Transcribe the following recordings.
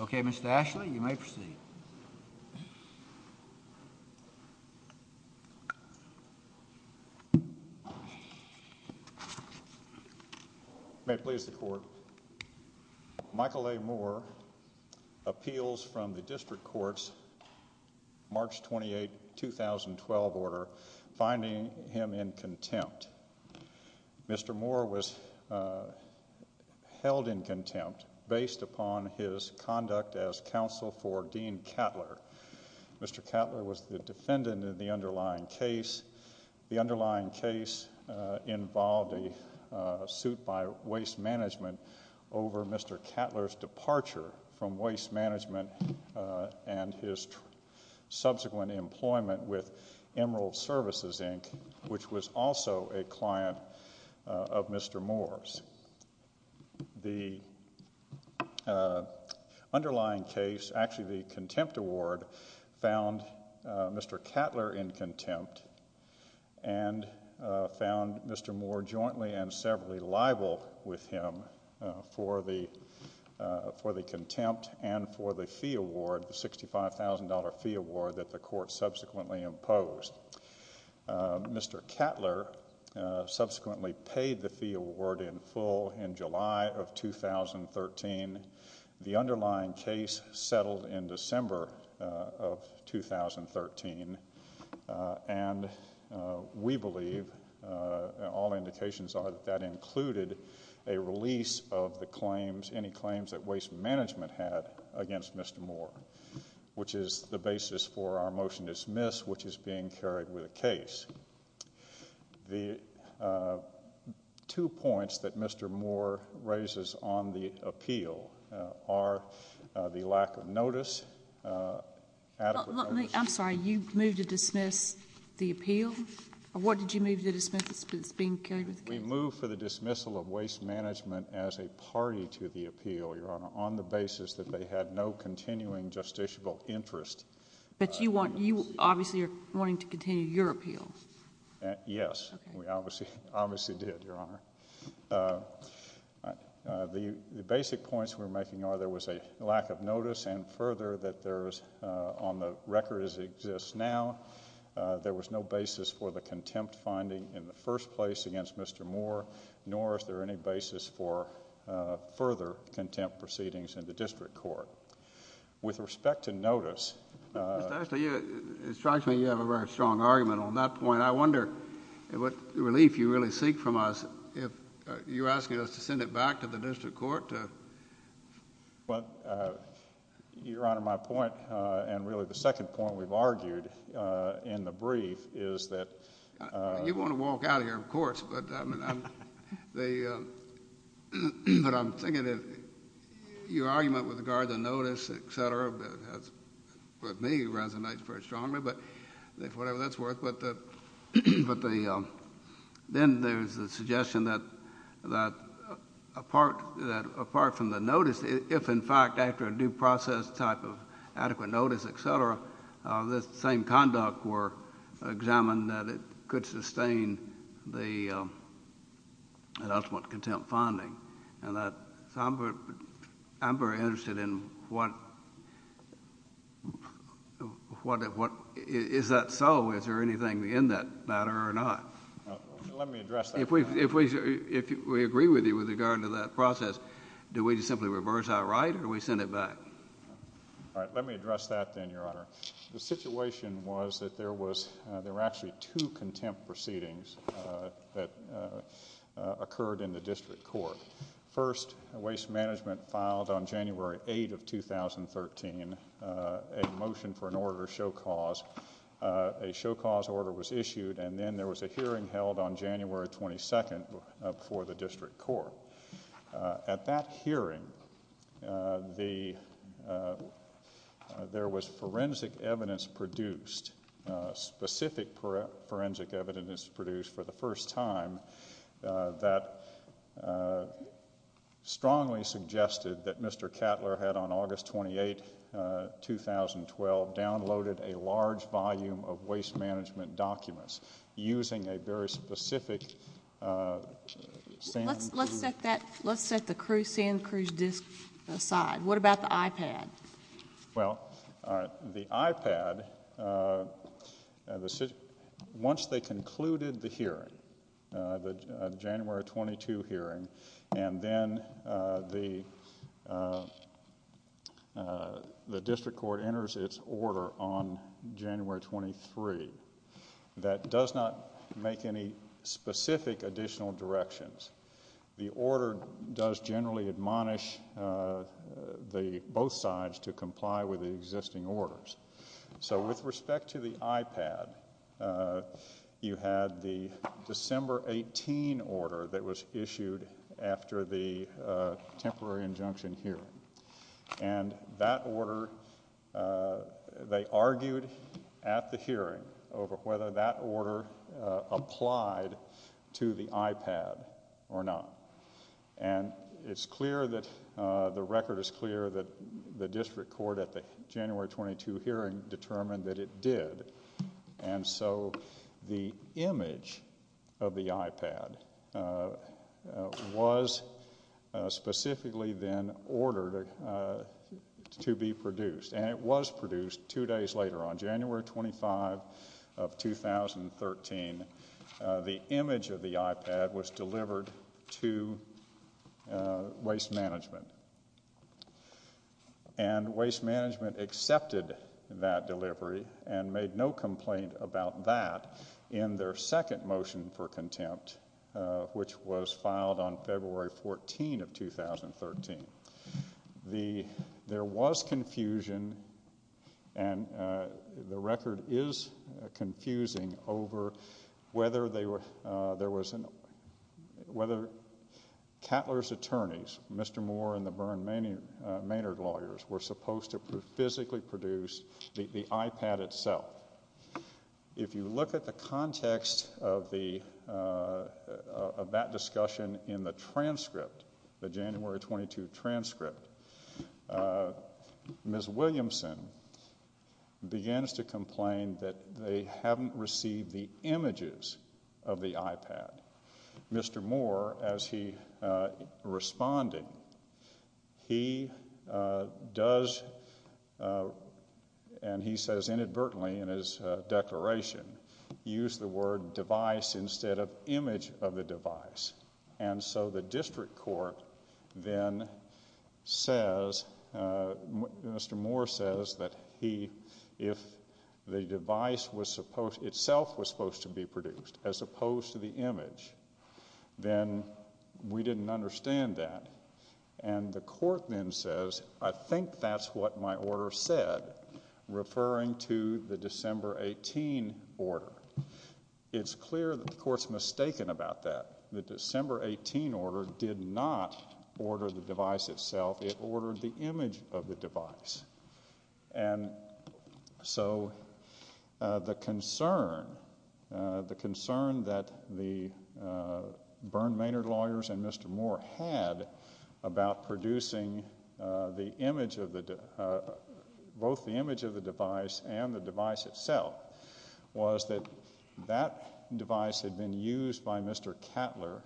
Okay, Mr. Ashley, you may proceed. May it please the Court, Michael A. Moore appeals from the District Court's March 28, 2012 order, finding him in contempt. Mr. Moore was held in contempt based upon his conduct as counsel for Dean Kattler. Mr. Kattler was the defendant in the underlying case. The underlying case involved a suit by Waste Management over Mr. Kattler's departure from Waste Management and his subsequent employment with Emerald Services, Inc., which was also a client of Mr. Moore's. The underlying case, actually the contempt award, found Mr. Kattler in contempt and found Mr. Moore jointly and severally liable with him for the contempt and for the fee award, the $65,000 fee award that the Court subsequently imposed. Mr. Kattler subsequently paid the fee award in full in July of 2013. The underlying case settled in December of 2013, and we believe, all indications are that that included a release of the claims, any claims that Waste Management had against Mr. Moore, which is the basis for our motion to dismiss, which is being carried with the case. The two points that Mr. Moore raises on the appeal are the lack of notice, adequate notice— I'm sorry, you moved to dismiss the appeal? What did you move to dismiss that's being carried with the case? We moved for the dismissal of Waste Management as a party to the appeal, Your Honor, on the continuing justiciable interest. But you obviously are wanting to continue your appeal? Yes, we obviously did, Your Honor. The basic points we're making are there was a lack of notice and further that there is, on the record as it exists now, there was no basis for the contempt finding in the first place against Mr. Moore, nor is there any basis for further contempt proceedings in the district court. With respect to notice— Mr. Ashton, it strikes me you have a very strong argument on that point. I wonder what relief you really seek from us if you're asking us to send it back to the district court? Well, Your Honor, my point, and really the second point we've argued in the brief, is that— The argument with regard to notice, et cetera, with me resonates very strongly, but if whatever that's worth, but then there's the suggestion that apart from the notice, if in fact after a due process type of adequate notice, et cetera, the same conduct were examined that it could sustain an ultimate contempt finding. I'm very interested in what—is that so? Is there anything in that matter or not? Let me address that. If we agree with you with regard to that process, do we simply reverse that right or do we send it back? All right. Let me address that then, Your Honor. The situation was that there were actually two contempt proceedings that occurred in the district court. First, Waste Management filed on January 8th of 2013 a motion for an order of show cause. A show cause order was issued and then there was a hearing held on January 22nd before the district court. At that hearing, there was forensic evidence produced, specific forensic evidence produced for the first time that strongly suggested that Mr. Cattler had on August 28, 2012, downloaded a large volume of Waste Management documents using a very specific— Let's set that—let's set the San Cruz disk aside. What about the iPad? Well, the iPad—once they concluded the hearing, the January 22 hearing, and then the district court enters its order on January 23, that does not make any specific additional directions. The order does generally admonish the—both sides to comply with the existing orders. So with respect to the iPad, you had the December 18 order that was issued after the temporary injunction hearing. And that order—they argued at the hearing over whether that order applied to the iPad or not. And it's clear that the record is clear that the district court at the January 22 hearing determined that it did. And so the image of the iPad was specifically then ordered to be produced, and it was produced two days later. On January 25 of 2013, the image of the iPad was delivered to Waste Management, and Waste Management had no complaint about that in their second motion for contempt, which was filed on February 14 of 2013. There was confusion, and the record is confusing, over whether there was—whether Cattler's attorneys, Mr. Moore and the Byrne-Maynard lawyers, were supposed to physically produce the iPad itself. If you look at the context of that discussion in the transcript, the January 22 transcript, Ms. Williamson begins to complain that they haven't received the images of the iPad. Mr. Moore, as he responded, he does—and he says inadvertently in his declaration—used the word device instead of image of the device. And so the district court then says—Mr. Moore says that he—if the device itself was supposed to be produced, as opposed to the image, then we didn't understand that. And the court then says, I think that's what my order said, referring to the December 18 order. It's clear that the court's mistaken about that. The December 18 order did not order the device itself. It ordered the image of the device. And so the concern—the concern that the Byrne-Maynard lawyers and Mr. Moore had about producing the image of the—both the image of the device and the device itself was that that device had been used by Mr. Cattler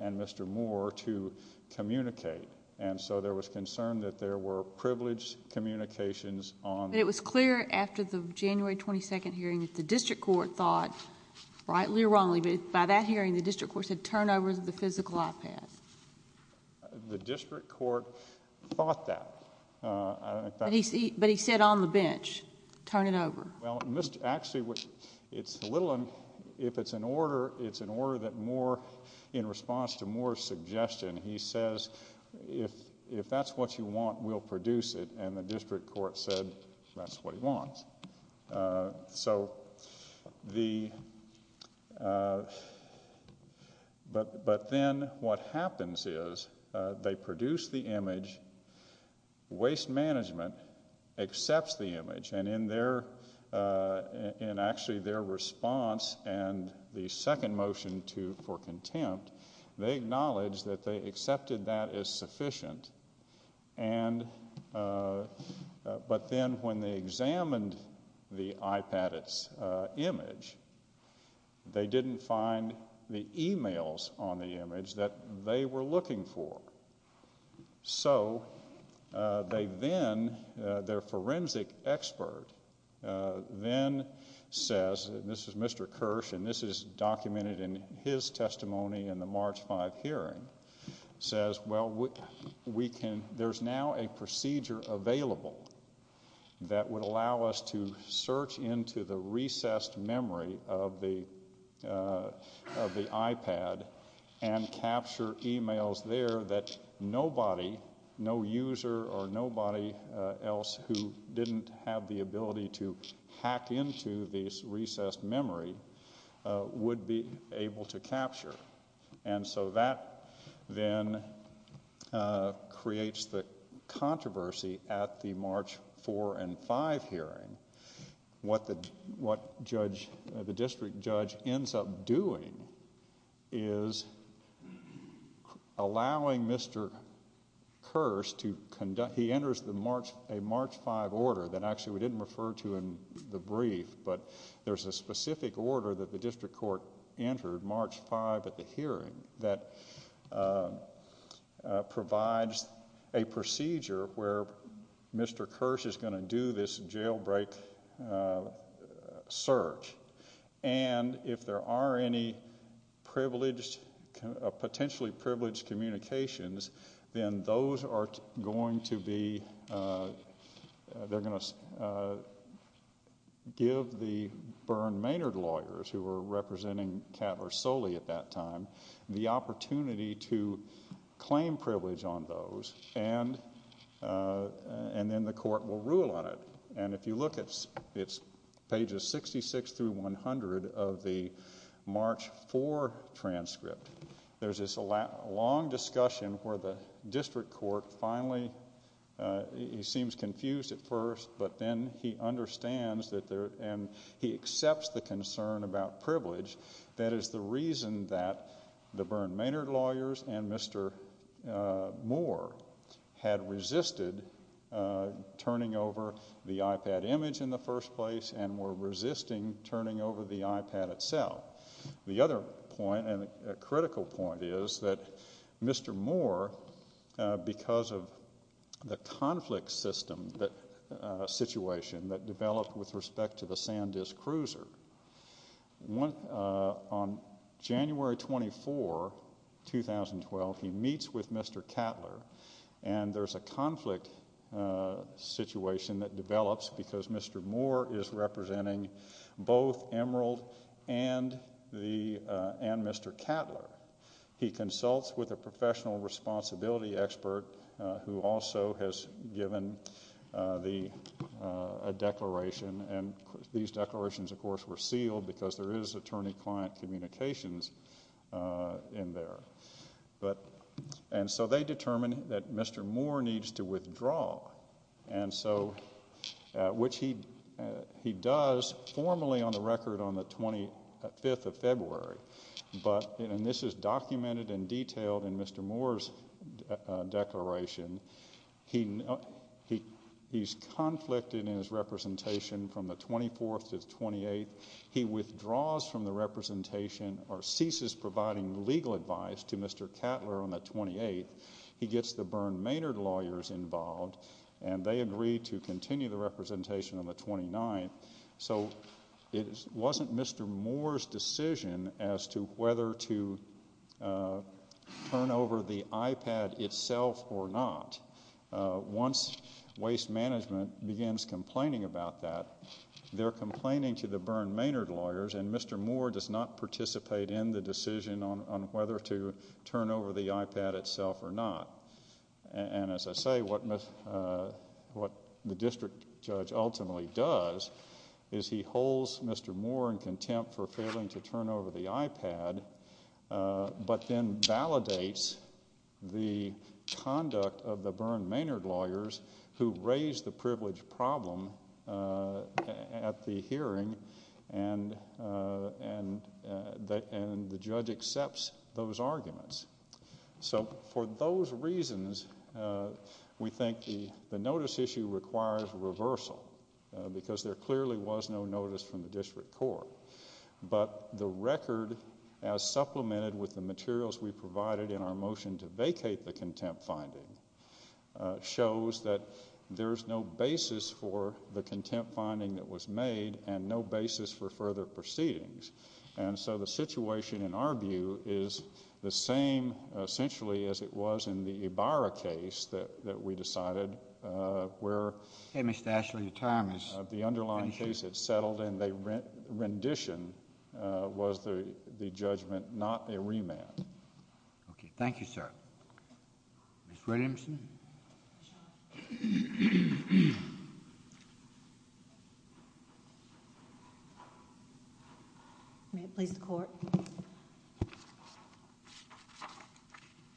and Mr. Moore to communicate. And so there was concern that there were privileged communications on— But it was clear after the January 22 hearing that the district court thought, rightly or wrongly, that by that hearing the district court said turn over the physical iPad. The district court thought that. But he said on the bench, turn it over. Well, actually, it's a little—if it's an order, it's an order that Moore—in response to Moore's suggestion, he says, if that's what you want, we'll produce it. And the district court said that's what he wants. So the—but then what happens is they produce the image. Waste management accepts the image. And in their—in actually their response and the second motion to—for contempt, they acknowledge that they accepted that as sufficient. And—but then when they examined the iPad, its image, they didn't find the emails on the image that they were looking for. So they then—their forensic expert then says—and this is Mr. Kirsch, and this is documented in his testimony in the March 5 hearing—says, well, we can—there's now a procedure available that would allow us to search into the recessed memory of the iPad and capture emails there that nobody—no user or nobody else who didn't have the ability to hack into this recessed memory would be able to capture. And so that then creates the controversy at the March 4 and 5 hearing. What the judge—the district judge ends up doing is allowing Mr. Kirsch to conduct—he enters the March—a March 5 order that actually we didn't refer to in the brief, but there's a specific order that the district court entered March 5 at the hearing that provides a procedure where Mr. Kirsch is going to do this jailbreak search. And if there are any privileged—potentially privileged communications, then those are going to be—they're going to give the Byrne Maynard lawyers, who were representing Kattler Solely at that time, the opportunity to claim privilege on those, and then the court will rule on it. And if you look, it's pages 66 through 100 of the March 4 transcript. There's this long discussion where the district court finally—he seems confused at first, but then he understands that there—and he accepts the concern about privilege. That is the reason that the Byrne Maynard lawyers and Mr. Moore had resisted turning over the iPad image in the first place and were resisting turning over the iPad itself. The other point, and a critical point, is that Mr. Moore, because of the conflict system situation that developed with respect to the SanDisk Cruiser, on January 24, 2012, he meets with Mr. Kattler, and there's a conflict situation that develops because Mr. Moore is representing both Emerald and Mr. Kattler. He consults with a professional responsibility expert who also has given a declaration, and these declarations, of course, were sealed because there is attorney-client communications in there. And so they determine that Mr. Moore needs to withdraw, which he does formally on the 25th of February, but—and this is documented and detailed in Mr. Moore's declaration—he's conflicted in his representation from the 24th to the 28th. He withdraws from the representation or ceases providing legal advice to Mr. Kattler on the 28th. He gets the Byrne Maynard lawyers involved, and they agree to continue the representation on the 29th. So it wasn't Mr. Moore's decision as to whether to turn over the iPad itself or not. Once waste management begins complaining about that, they're complaining to the Byrne Maynard lawyers, and Mr. Moore does not participate in the decision on whether to turn over the iPad itself or not. And as I say, what the district judge ultimately does is he holds Mr. Moore in contempt for failing to turn over the iPad, but then validates the conduct of the Byrne Maynard lawyers who raised the privilege problem at the hearing, and the judge accepts those arguments. So for those reasons, we think the notice issue requires reversal, because there clearly was no notice from the district court. But the record, as supplemented with the materials we provided in our motion to vacate the contempt finding, shows that there's no basis for the contempt finding that was made and no basis for further proceedings. And so the situation, in our view, is the same, essentially, as it was in the Ibarra case that we decided, where the underlying case had settled and the rendition was the judgment, not the remand. Thank you, sir. Ms. Williamson? May it please the Court?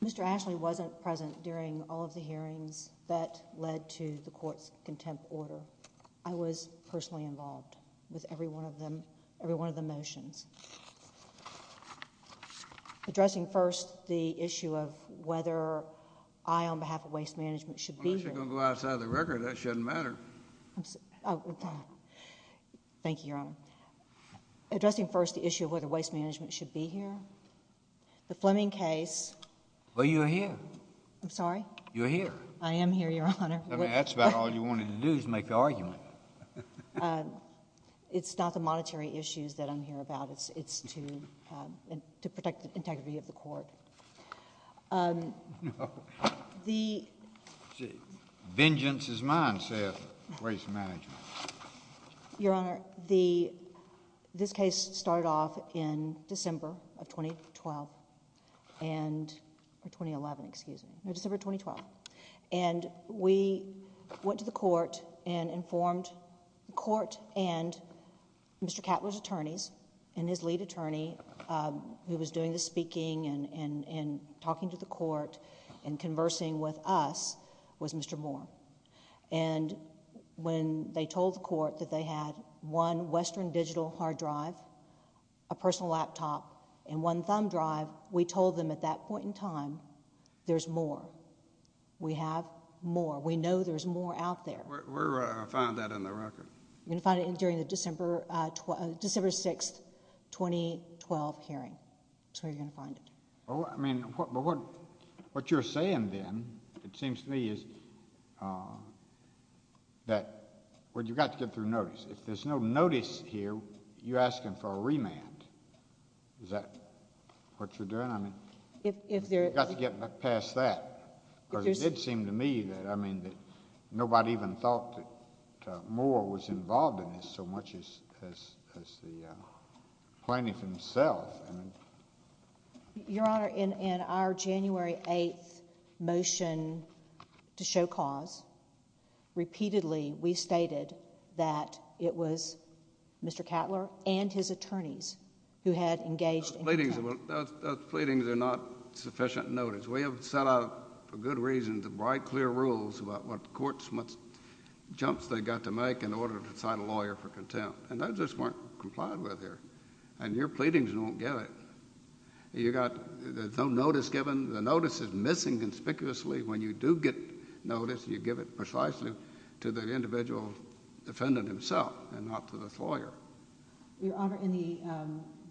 Mr. Ashley wasn't present during all of the hearings that led to the court's contempt order. I was personally involved with every one of them, every one of the motions. Addressing first the issue of whether I, on behalf of Waste Management, should be here. Unless you're going to go outside the record, that shouldn't matter. Thank you, Your Honor. Addressing first the issue of whether Waste Management should be here. The Fleming case. Well, you're here. I'm sorry? You're here. I am here, Your Honor. I mean, that's about all you wanted to do, is make the argument. It's not the monetary issues that I'm here about. It's to protect the integrity of the court. Vengeance is mine, says Waste Management. Your Honor, this case started off in December of 2012. Or 2011, excuse me. No, December 2012. We went to the court and informed the court and Mr. Catler's attorneys, and his lead attorney, who was doing the speaking and talking to the court and conversing with us, was Mr. Moore. When they told the court that they had one Western digital hard drive, a We have more. We know there's more out there. Where do I find that in the record? You're going to find it during the December 6, 2012 hearing. That's where you're going to find it. I mean, what you're saying then, it seems to me, is that you've got to get through notice. If there's no notice here, you're asking for a remand. Is that what you're doing? You've got to get past that. Because it did seem to me that nobody even thought that Moore was involved in this so much as the plaintiff himself. Your Honor, in our January 8 motion to show cause, repeatedly we stated that it was Mr. Catler and his attorneys who had engaged in contact. Those pleadings are not sufficient notice. We have set out, for good reason, the bright, clear rules about what jumps they got to make in order to cite a lawyer for contempt. And those just weren't complied with here. And your pleadings don't get it. There's no notice given. The notice is missing conspicuously. When you do get notice, you give it precisely to the individual defendant himself and not to this lawyer. Your Honor, in the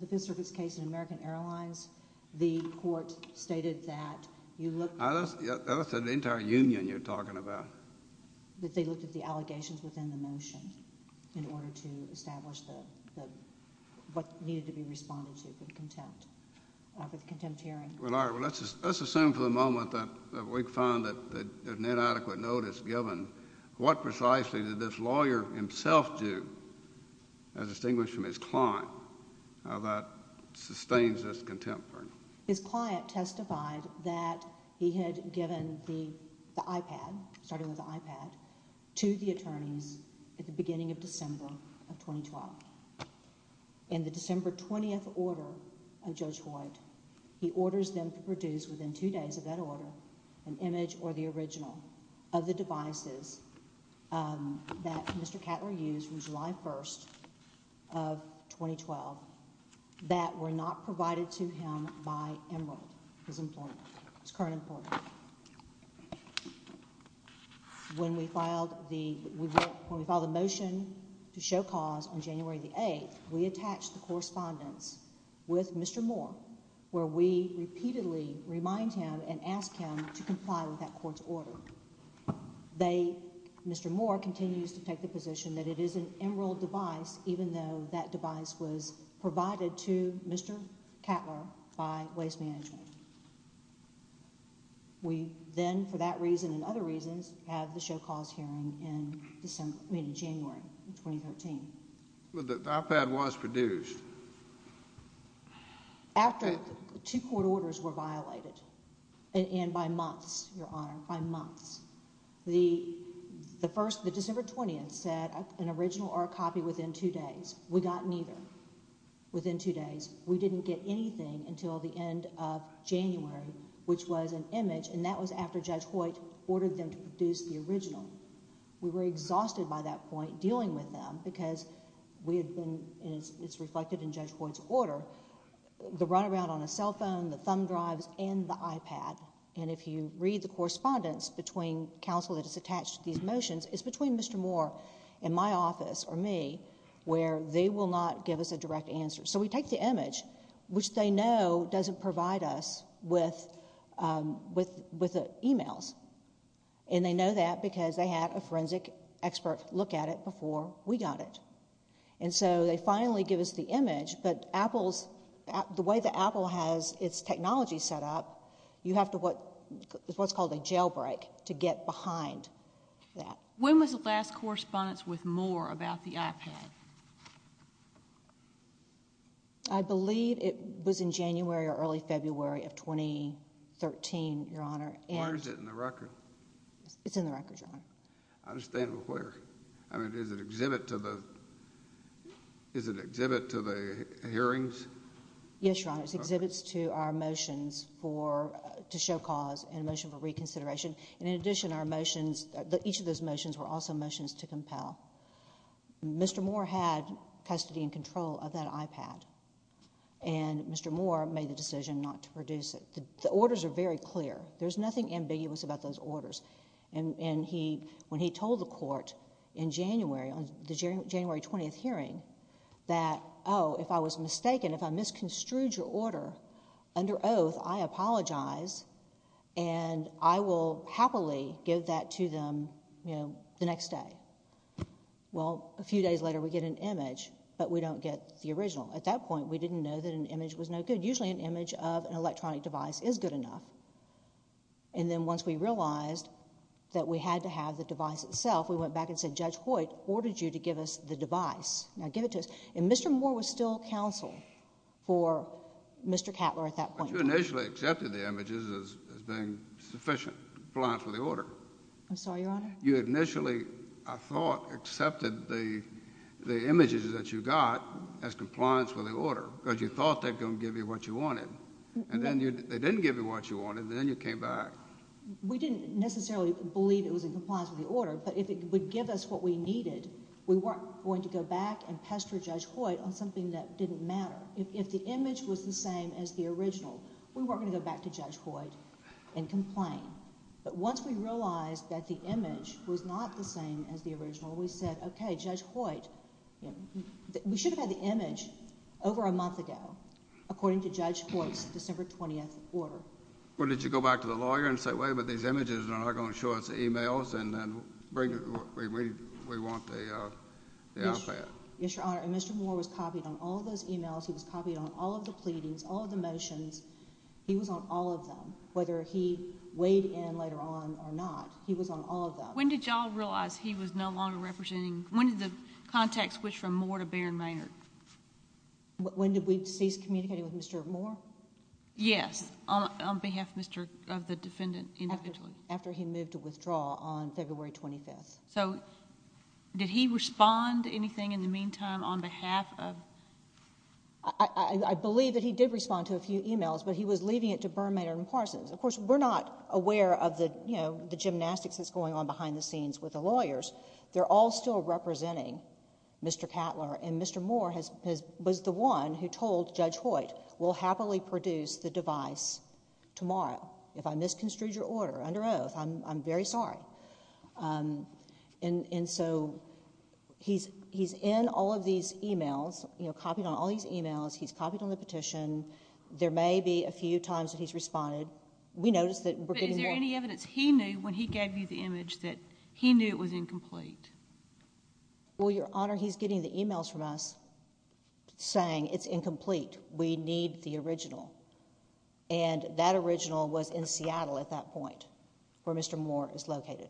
Fifth Circuit's case in American Airlines, the court stated that you looked at the allegations within the motion in order to establish what needed to be responded to for the contempt hearing. Well, let's assume for the moment that we found that there's inadequate notice given. What precisely did this lawyer himself do, as distinguished from his client, that sustains this contempt hearing? His client testified that he had given the iPad, starting with the iPad, to the attorneys at the beginning of December of 2012. In the December 20th order of Judge Hoyt, he orders them to produce within two days of that order an image or the original of the devices that Mr. Cattler used from July 1st of 2012 that were not provided to him by Emerald, his current employer. When we filed the motion to show cause on January 8th, we attached the correspondence with Mr. Moore, where we repeatedly remind him and ask him to comply with that court's order. Mr. Moore continues to take the position that it is an Emerald device, even though that device was provided to Mr. Cattler by Waste Management. We then, for that reason and other reasons, have the show cause hearing in January 2013. But the iPad was produced. After two court orders were violated, and by months, Your Honor, by months, the December 20th said an original or a copy within two days. We got neither within two days. We didn't get anything until the end of January, which was an image, and that was after Judge Hoyt ordered them to produce the original. We were exhausted by that point, dealing with them, because we had been, and it's reflected in Judge Hoyt's order, the runaround on a cell phone, the thumb drives, and the iPad. And if you read the correspondence between counsel that is attached to these motions, it's between Mr. Moore and my office, or me, where they will not give us a direct answer. So we take the image, which they know doesn't provide us with emails. And they know that because they had a forensic expert look at it before we got it. And so they finally give us the image, but Apple's, the way that Apple has its technology set up, you have to what's called a jailbreak to get behind that. When was the last correspondence with Moore about the iPad? I believe it was in January or early February of 2013, Your Honor. Why is it in the record? It's in the record, Your Honor. I understand, but where? I mean, is it exhibit to the hearings? Yes, Your Honor. It's exhibits to our motions to show cause and a motion for reconsideration. And in addition, our motions, each of those motions were also motions to compel. Mr. Moore had custody and control of that iPad. And Mr. Moore made the decision not to produce it. The orders are very clear. There's nothing ambiguous about those orders. And he, when he told the court in January, on the January 20th hearing, that, oh, if I was mistaken, if I misconstrued your order under oath, I apologize and I will happily give that to them, you know, the next day. Well, a few days later, we get an image, but we don't get the original. At that point, we didn't know that an image was no good. Usually, an image of an electronic device is good enough. And then once we realized that we had to have the device itself, we went back and said, Judge Hoyt ordered you to give us the device. Now, give it to us. And Mr. Moore was still counsel for Mr. Cattler at that point. But you initially accepted the images as being sufficient in compliance with the order. I'm sorry, Your Honor? You initially, I thought, accepted the images that you got as compliance with the order because you thought they were going to give you what you wanted. And then they didn't give you what you wanted, and then you came back. We didn't necessarily believe it was in compliance with the order, but if it would give us what we needed, we weren't going to go back and pester Judge Hoyt on something that didn't matter. If the image was the same as the original, we weren't going to go back to Judge Hoyt and complain. But once we realized that the image was not the same as the original, we said, okay, Judge According to Judge Hoyt's December 20th order. Well, did you go back to the lawyer and say, wait, but these images are not going to show us the e-mails, and then we want the iPad? Yes, Your Honor. And Mr. Moore was copied on all of those e-mails. He was copied on all of the pleadings, all of the motions. He was on all of them. Whether he weighed in later on or not, he was on all of them. When did y'all realize he was no longer representing, when did the context switch from Moore to Baron Maynard? When did we cease communicating with Mr. Moore? Yes, on behalf of the defendant individually. After he moved to withdraw on February 25th. So, did he respond to anything in the meantime on behalf of... I believe that he did respond to a few e-mails, but he was leaving it to Baron Maynard and Parsons. Of course, we're not aware of the gymnastics that's going on behind the scenes with the lawyers. They're all still representing Mr. Cattler, and Mr. Moore was the one who told Judge Hoyt, we'll happily produce the device tomorrow. If I misconstrued your order under oath, I'm very sorry. And so, he's in all of these e-mails, copied on all these e-mails. He's copied on the petition. There may be a few times that he's responded. We noticed that we're getting more... Well, Your Honor, he's getting the e-mails from us saying it's incomplete. We need the original. And that original was in Seattle at that point where Mr. Moore is located.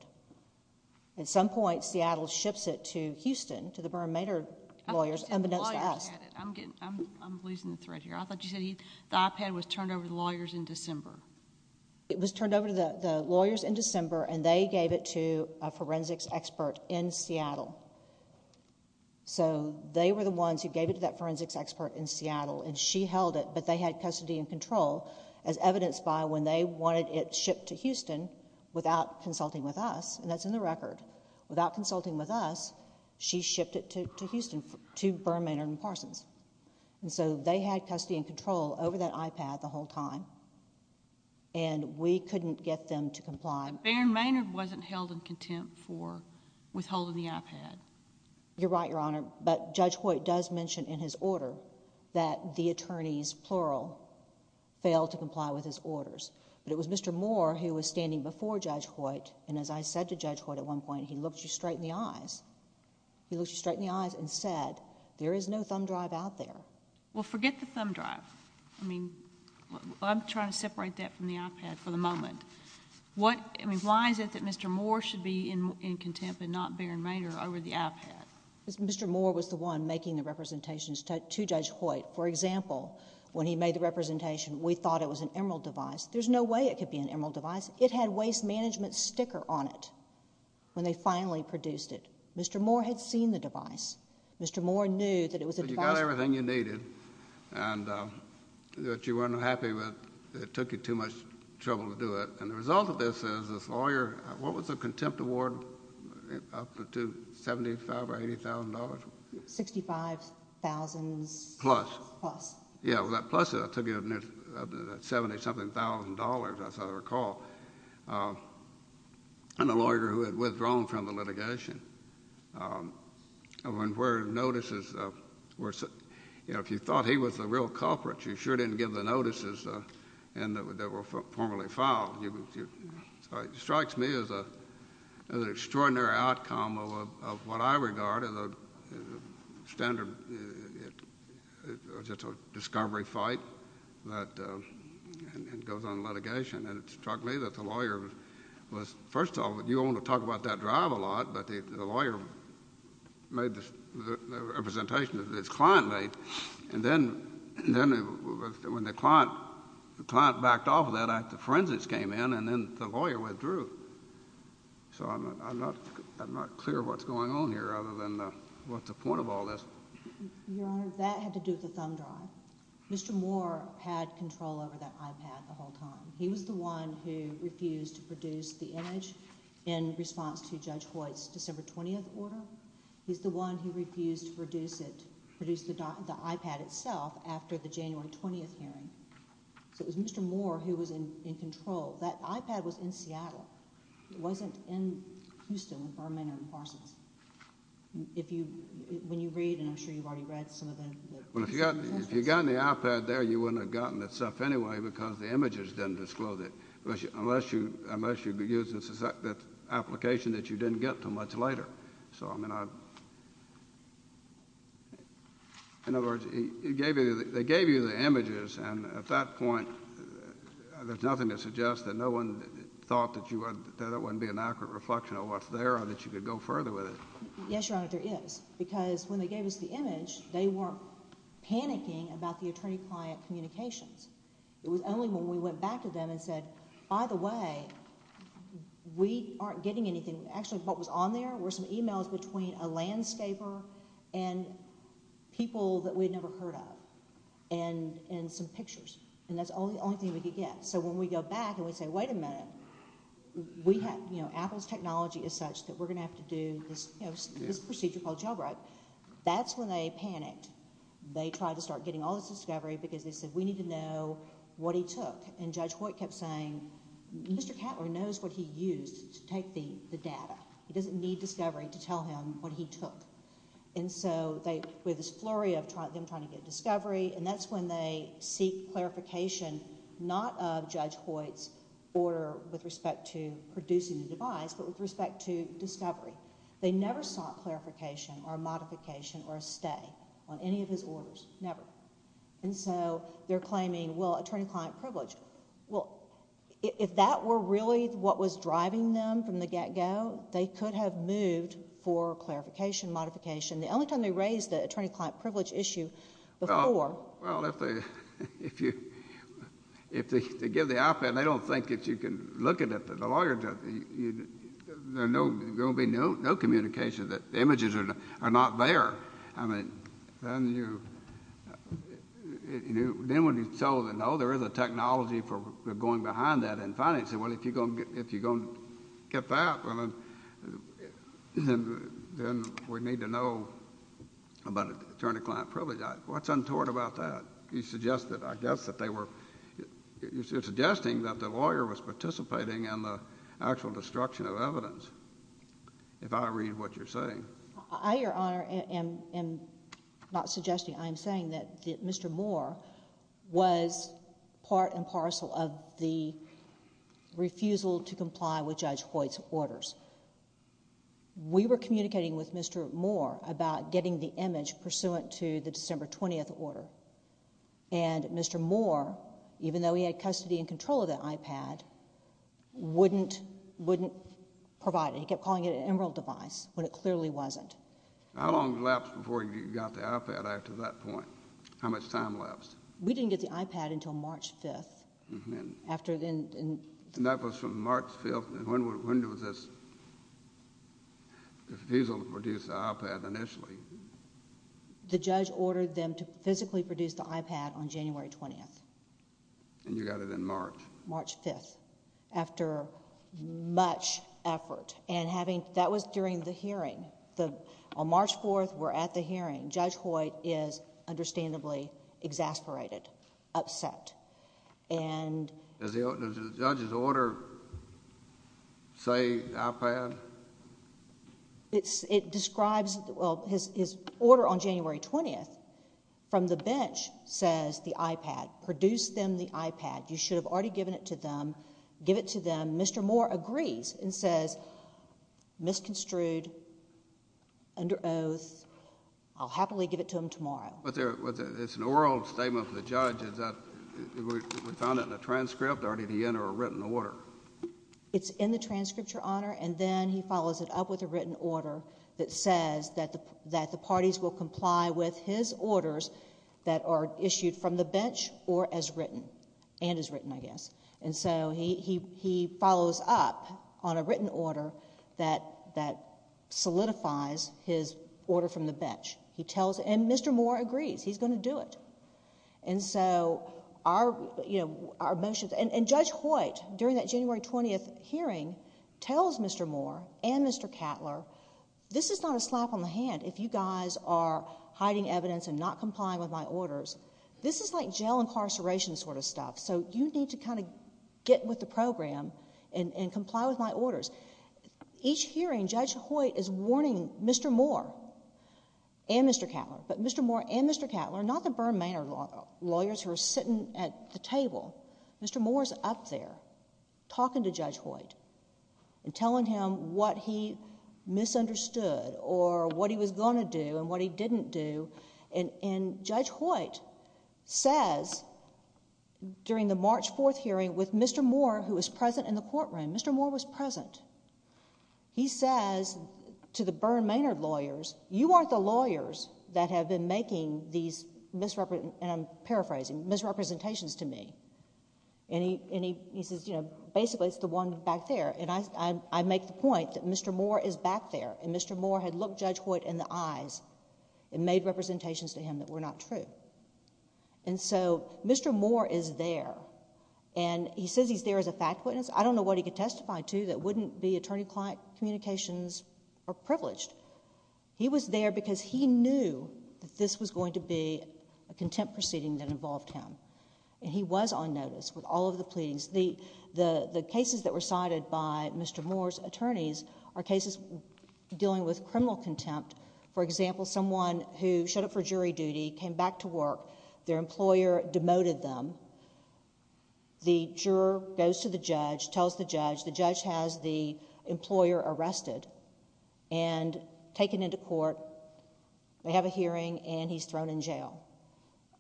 At some point, Seattle ships it to Houston to the Baron Maynard lawyers unbeknownst to us. I'm losing the thread here. I thought you said the iPad was turned over to the lawyers in December. It was turned over to the lawyers in December, and they gave it to a forensics expert in Seattle. So, they were the ones who gave it to that forensics expert in Seattle, and she held it, but they had custody and control as evidenced by when they wanted it shipped to Houston without consulting with us, and that's in the record. Without consulting with us, she shipped it to Houston to Baron Maynard and Parsons. And so, they had custody and control over that iPad the whole time, and we couldn't get them to comply. Baron Maynard wasn't held in contempt for withholding the iPad. You're right, Your Honor, but Judge Hoyt does mention in his order that the attorneys, plural, failed to comply with his orders, but it was Mr. Moore who was standing before Judge Hoyt, and as I said to Judge Hoyt at one point, he looked you straight in the eyes. He looked you straight in the eyes and said, there is no thumb drive out there. Well, forget the thumb drive. I mean, I'm trying to separate that from the iPad for the moment. Why is it that Mr. Moore should be in contempt and not Baron Maynard over the iPad? Mr. Moore was the one making the representations to Judge Hoyt. For example, when he made the representation, we thought it was an Emerald device. There's no way it could be an Emerald device. It had waste management sticker on it when they finally produced it. Mr. Moore had seen the device. Mr. Moore knew that it was a device. But you got everything you needed and that you weren't happy with. It took you too much trouble to do it, and the result of this is this lawyer, what was the contempt award up to, $75,000 or $80,000? $65,000 plus. Plus. Plus it took you up to $70,000-something, as I recall, and a lawyer who had withdrawn from the litigation. Where notices were sent. You know, if you thought he was the real culprit, you sure didn't give the notices that were formally filed. It strikes me as an extraordinary outcome of what I regard as a standard discovery fight that goes on in litigation. And it struck me that the lawyer was, first of all, you only talk about that drive a lot, but the lawyer made the representation that his client made. And then when the client backed off of that, the forensics came in, and then the lawyer withdrew. So I'm not clear what's going on here other than what's the point of all this. Your Honor, that had to do with the thumb drive. Mr. Moore had control over that iPad the whole time. He was the one who refused to produce the image in response to Judge Hoyt's December 20th order. He's the one who refused to produce the iPad itself after the January 20th hearing. So it was Mr. Moore who was in control. That iPad was in Seattle. It wasn't in Houston, in Burma, or in Parsons. When you read, and I'm sure you've already read some of the documents. Well, if you'd gotten the iPad there, you wouldn't have gotten the stuff anyway because the images didn't disclose it, unless you used an application that you didn't get until much later. So, I mean, in other words, they gave you the images, and at that point there's nothing to suggest that no one thought that that wouldn't be an accurate reflection of what's there or that you could go further with it. Yes, Your Honor, there is because when they gave us the image, they weren't panicking about the attorney-client communications. It was only when we went back to them and said, by the way, we aren't getting anything. Actually, what was on there were some e-mails between a landscaper and people that we'd never heard of and some pictures, and that's the only thing we could get. So when we go back and we say, wait a minute, Apple's technology is such that we're going to have to do this procedure called jailbreak, that's when they panicked. They tried to start getting all this discovery because they said, we need to know what he took, and Judge Hoyt kept saying, Mr. Cattler knows what he used to take the data. He doesn't need discovery to tell him what he took. And so with this flurry of them trying to get discovery, and that's when they seek clarification not of Judge Hoyt's order with respect to producing the device, but with respect to discovery. They never sought clarification or modification or a stay on any of his orders, never. And so they're claiming, well, attorney-client privilege. Well, if that were really what was driving them from the get-go, they could have moved for clarification, modification. The only time they raised the attorney-client privilege issue before... Well, if they give the op-ed, they don't think that you can look at it. The lawyers, there's going to be no communication that the images are not there. Then when you tell them, no, there is a technology for going behind that in financing, well, if you're going to get that, then we need to know about attorney-client privilege. What's untoward about that? You're suggesting that the lawyer was participating in the actual destruction of evidence, if I read what you're saying. I, Your Honor, am not suggesting. I am saying that Mr. Moore was part and parcel of the refusal to comply with Judge Hoyt's orders. We were communicating with Mr. Moore about getting the image pursuant to the December 20th order, and Mr. Moore, even though he had custody and control of that op-ed, wouldn't provide it. He kept calling it an emerald device when it clearly wasn't. How long lapsed before you got the op-ed after that point? How much time lapsed? We didn't get the op-ed until March 5th. And that was from March 5th? When was this refusal to produce the op-ed initially? The judge ordered them to physically produce the op-ed on January 20th. And you got it in March? March 5th, after much effort. And that was during the hearing. On March 4th, we're at the hearing. Judge Hoyt is understandably exasperated, upset. And... Does the judge's order say op-ed? It describes... well, his order on January 20th from the bench says the op-ed. Produce them the op-ed. You should have already given it to them. Give it to them. Mr. Moore agrees and says, misconstrued, under oath. I'll happily give it to them tomorrow. It's an oral statement from the judge. We found it in a transcript or did he enter a written order? It's in the transcript, Your Honor, and then he follows it up with a written order that says that the parties will comply with his orders that are issued from the bench or as written. And as written, I guess. And so he follows up on a written order that solidifies his order from the bench. And Mr. Moore agrees. He's going to do it. And so our motions... And Judge Hoyt, during that January 20th hearing, tells Mr. Moore and Mr. Cattler, this is not a slap on the hand if you guys are hiding evidence and not complying with my orders. This is like jail incarceration sort of stuff. So you need to kind of get with the program and comply with my orders. Each hearing, Judge Hoyt is warning Mr. Moore and Mr. Cattler, but Mr. Moore and Mr. Cattler, not the Bermanor lawyers who are sitting at the table. Mr. Moore is up there talking to Judge Hoyt and telling him what he misunderstood or what he was going to do and what he didn't do. And Judge Hoyt says, during the March 4th hearing with Mr. Moore who was present in the courtroom, Mr. Moore was present. He says to the Bermanor lawyers, you aren't the lawyers that have been making these misrepresentations to me. And he says, you know, basically it's the one back there. And I make the point that Mr. Moore is back there. And Mr. Moore had looked Judge Hoyt in the eyes and made representations to him that were not true. And so Mr. Moore is there. And he says he's there as a fact witness. I don't know what he could testify to that wouldn't be attorney-client communications or privileged. He was there because he knew that this was going to be a contempt proceeding that involved him. And he was on notice with all of the pleadings. The cases that were cited by Mr. Moore's attorneys are cases dealing with criminal contempt. For example, someone who showed up for jury duty, came back to work. Their employer demoted them. The juror goes to the judge, tells the judge. The judge has the employer arrested and taken into court. They have a hearing, and he's thrown in jail.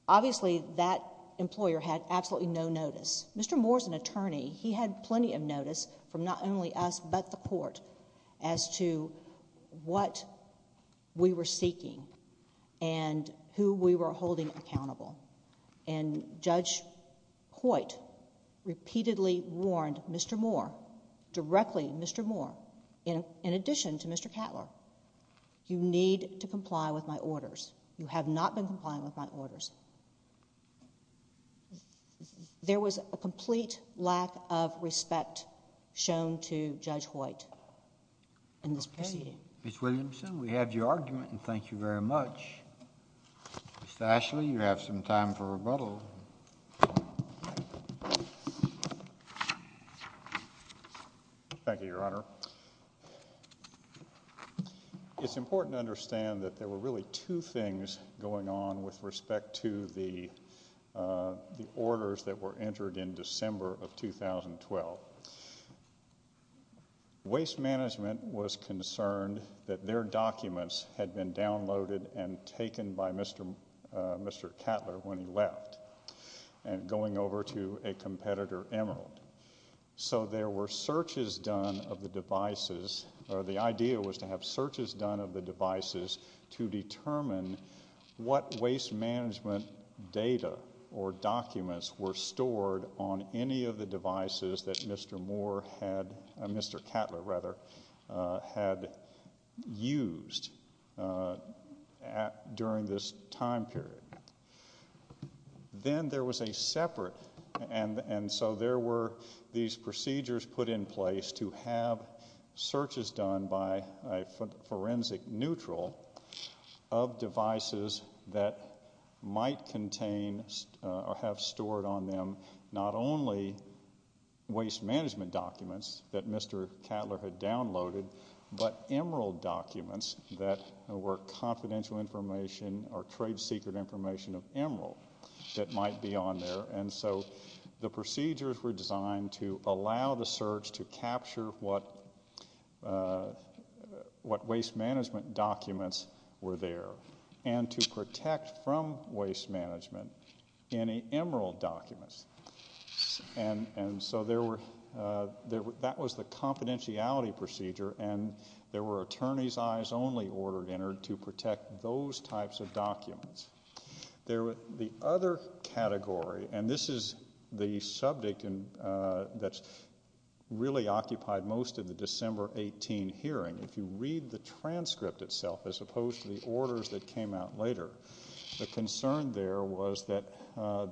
Obviously, that employer had absolutely no notice. Mr. Moore's an attorney. He had plenty of notice from not only us but the court as to what we were seeking and who we were holding accountable. And Judge Hoyt repeatedly warned Mr. Moore, directly Mr. Moore, in addition to Mr. Cattler, you need to comply with my orders. There was a complete lack of respect shown to Judge Hoyt in this proceeding. Ms. Williamson, we have your argument, and thank you very much. Mr. Ashley, you have some time for rebuttal. Thank you, Your Honor. It's important to understand that there were really two things going on with respect to the orders that were entered in December of 2012. Waste management was concerned that their documents had been downloaded and taken by Mr. Cattler when he left and going over to a competitor, Emerald. So there were searches done of the devices, or the idea was to have searches done of the devices to determine what waste management data or documents were stored on any of the devices that Mr. Cattler had used during this time period. Then there was a separate, and so there were these procedures put in place to have searches done by a forensic neutral of devices that might contain or have stored on them not only waste management documents that Mr. Cattler had downloaded, but Emerald documents that were confidential information or trade secret information of Emerald that might be on there. So the procedures were designed to allow the search to capture what waste management documents were there and to protect from waste management any Emerald documents. And so that was the confidentiality procedure, and there were attorneys' eyes only ordered entered to protect those types of documents. The other category, and this is the subject that really occupied most of the December 18 hearing. If you read the transcript itself, as opposed to the orders that came out later, the concern there was that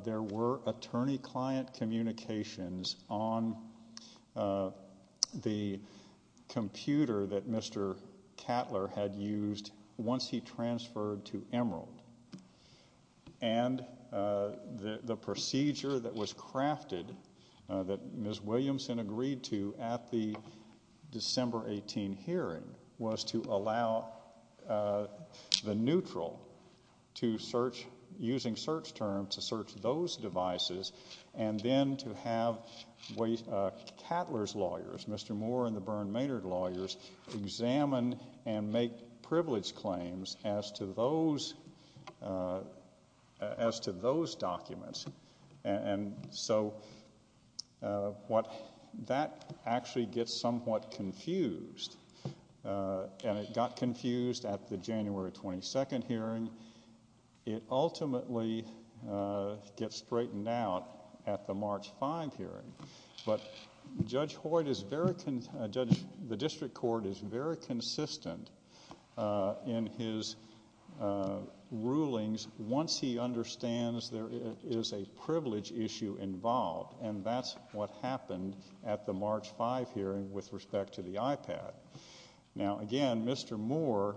there were attorney-client communications on the computer that Mr. Cattler had used once he transferred to Emerald. And the procedure that was crafted, that Ms. Williamson agreed to at the December 18 hearing, was to allow the neutral, using search terms, to search those devices and then to have Cattler's lawyers, Mr. Moore and the Byrne Maynard lawyers, examine and make privilege claims as to those documents. And so that actually gets somewhat confused, and it got confused at the January 22 hearing. It ultimately gets straightened out at the March 5 hearing. But Judge Hoyt is very, the district court is very consistent in his rulings once he understands there is a privilege issue involved, and that's what happened at the March 5 hearing with respect to the iPad. Now, again, Mr. Moore,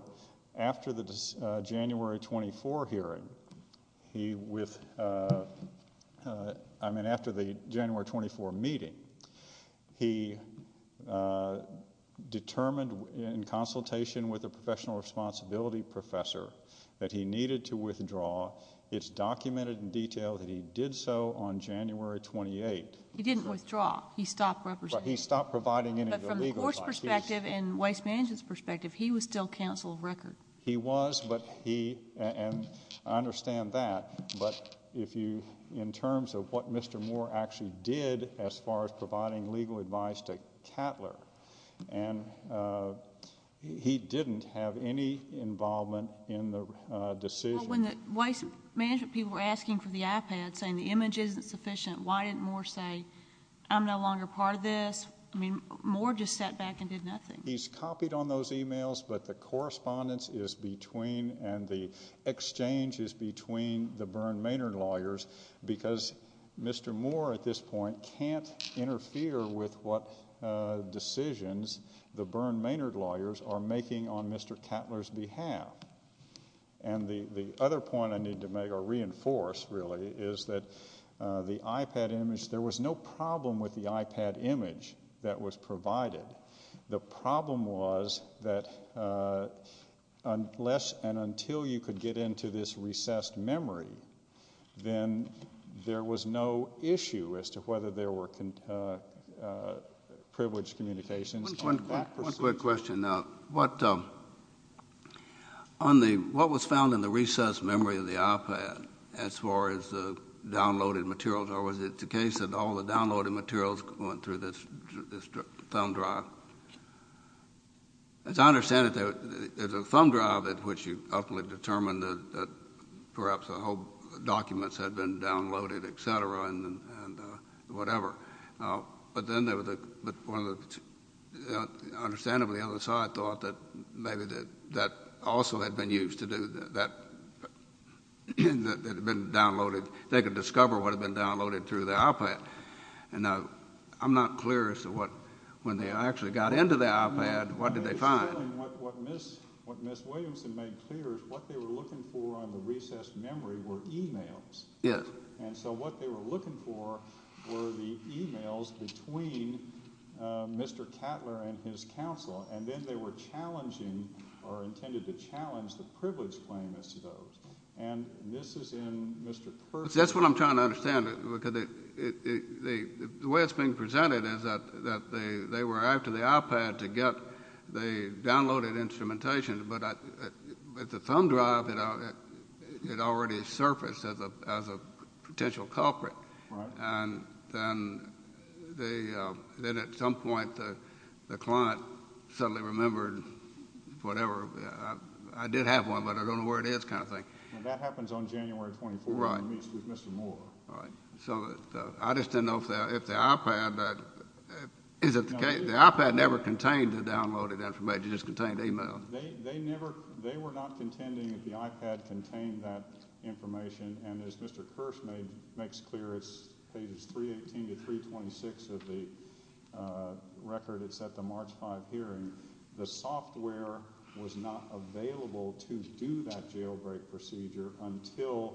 after the January 24 meeting, he determined in consultation with a professional responsibility professor that he needed to withdraw. It's documented in detail that he did so on January 28. He didn't withdraw. He stopped representing. But from the court's perspective and Waste Management's perspective, he was still counsel of record. He was, and I understand that. But in terms of what Mr. Moore actually did as far as providing legal advice to Cattler, he didn't have any involvement in the decision. When the Waste Management people were asking for the iPad, saying the image isn't sufficient, why didn't Moore say, I'm no longer part of this? I mean, Moore just sat back and did nothing. He's copied on those e-mails, but the correspondence is between and the exchange is between the Byrne Maynard lawyers because Mr. Moore at this point can't interfere with what decisions the Byrne Maynard lawyers are making on Mr. Cattler's behalf. And the other point I need to make or reinforce really is that the iPad image, there was no problem with the iPad image that was provided. The problem was that unless and until you could get into this recessed memory, then there was no issue as to whether there were privileged communications. One quick question. What was found in the recessed memory of the iPad as far as the downloaded materials, or was it the case that all the downloaded materials went through this thumb drive? As I understand it, there's a thumb drive at which you ultimately determine that perhaps the whole documents had been downloaded, et cetera, and whatever. But then there was a—understandably, on the other side, I thought that maybe that also had been used to do that—that had been downloaded. They could discover what had been downloaded through the iPad. And now I'm not clear as to what—when they actually got into the iPad, what did they find? What Ms. Williamson made clear is what they were looking for on the recessed memory were e-mails. Yes. And so what they were looking for were the e-mails between Mr. Cattler and his counsel, and then they were challenging or intended to challenge the privilege claim as to those. And this is in Mr. Perkins'— That's what I'm trying to understand. The way it's being presented is that they were after the iPad to get the downloaded instrumentation, but the thumb drive had already surfaced as a potential culprit. Right. And then at some point the client suddenly remembered whatever—I did have one, but I don't know where it is kind of thing. And that happens on January 24th when he meets with Mr. Moore. Right. So I just didn't know if the iPad—is it the case—the iPad never contained the downloaded information. It just contained e-mails. They never—they were not contending that the iPad contained that information. And as Mr. Kirsch makes clear, it's pages 318 to 326 of the record. It's at the March 5 hearing. The software was not available to do that jailbreak procedure until,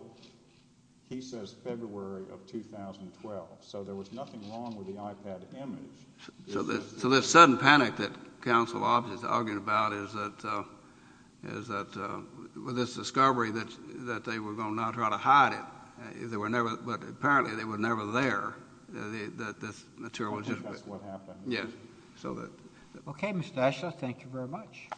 he says, February of 2012. So there was nothing wrong with the iPad image. So this sudden panic that counsel obviously is arguing about is that with this discovery that they were going to try to hide it. They were never—but apparently they were never there, that this material was just— I think that's what happened. Yes. Okay, Mr. Eshel, thank you very much.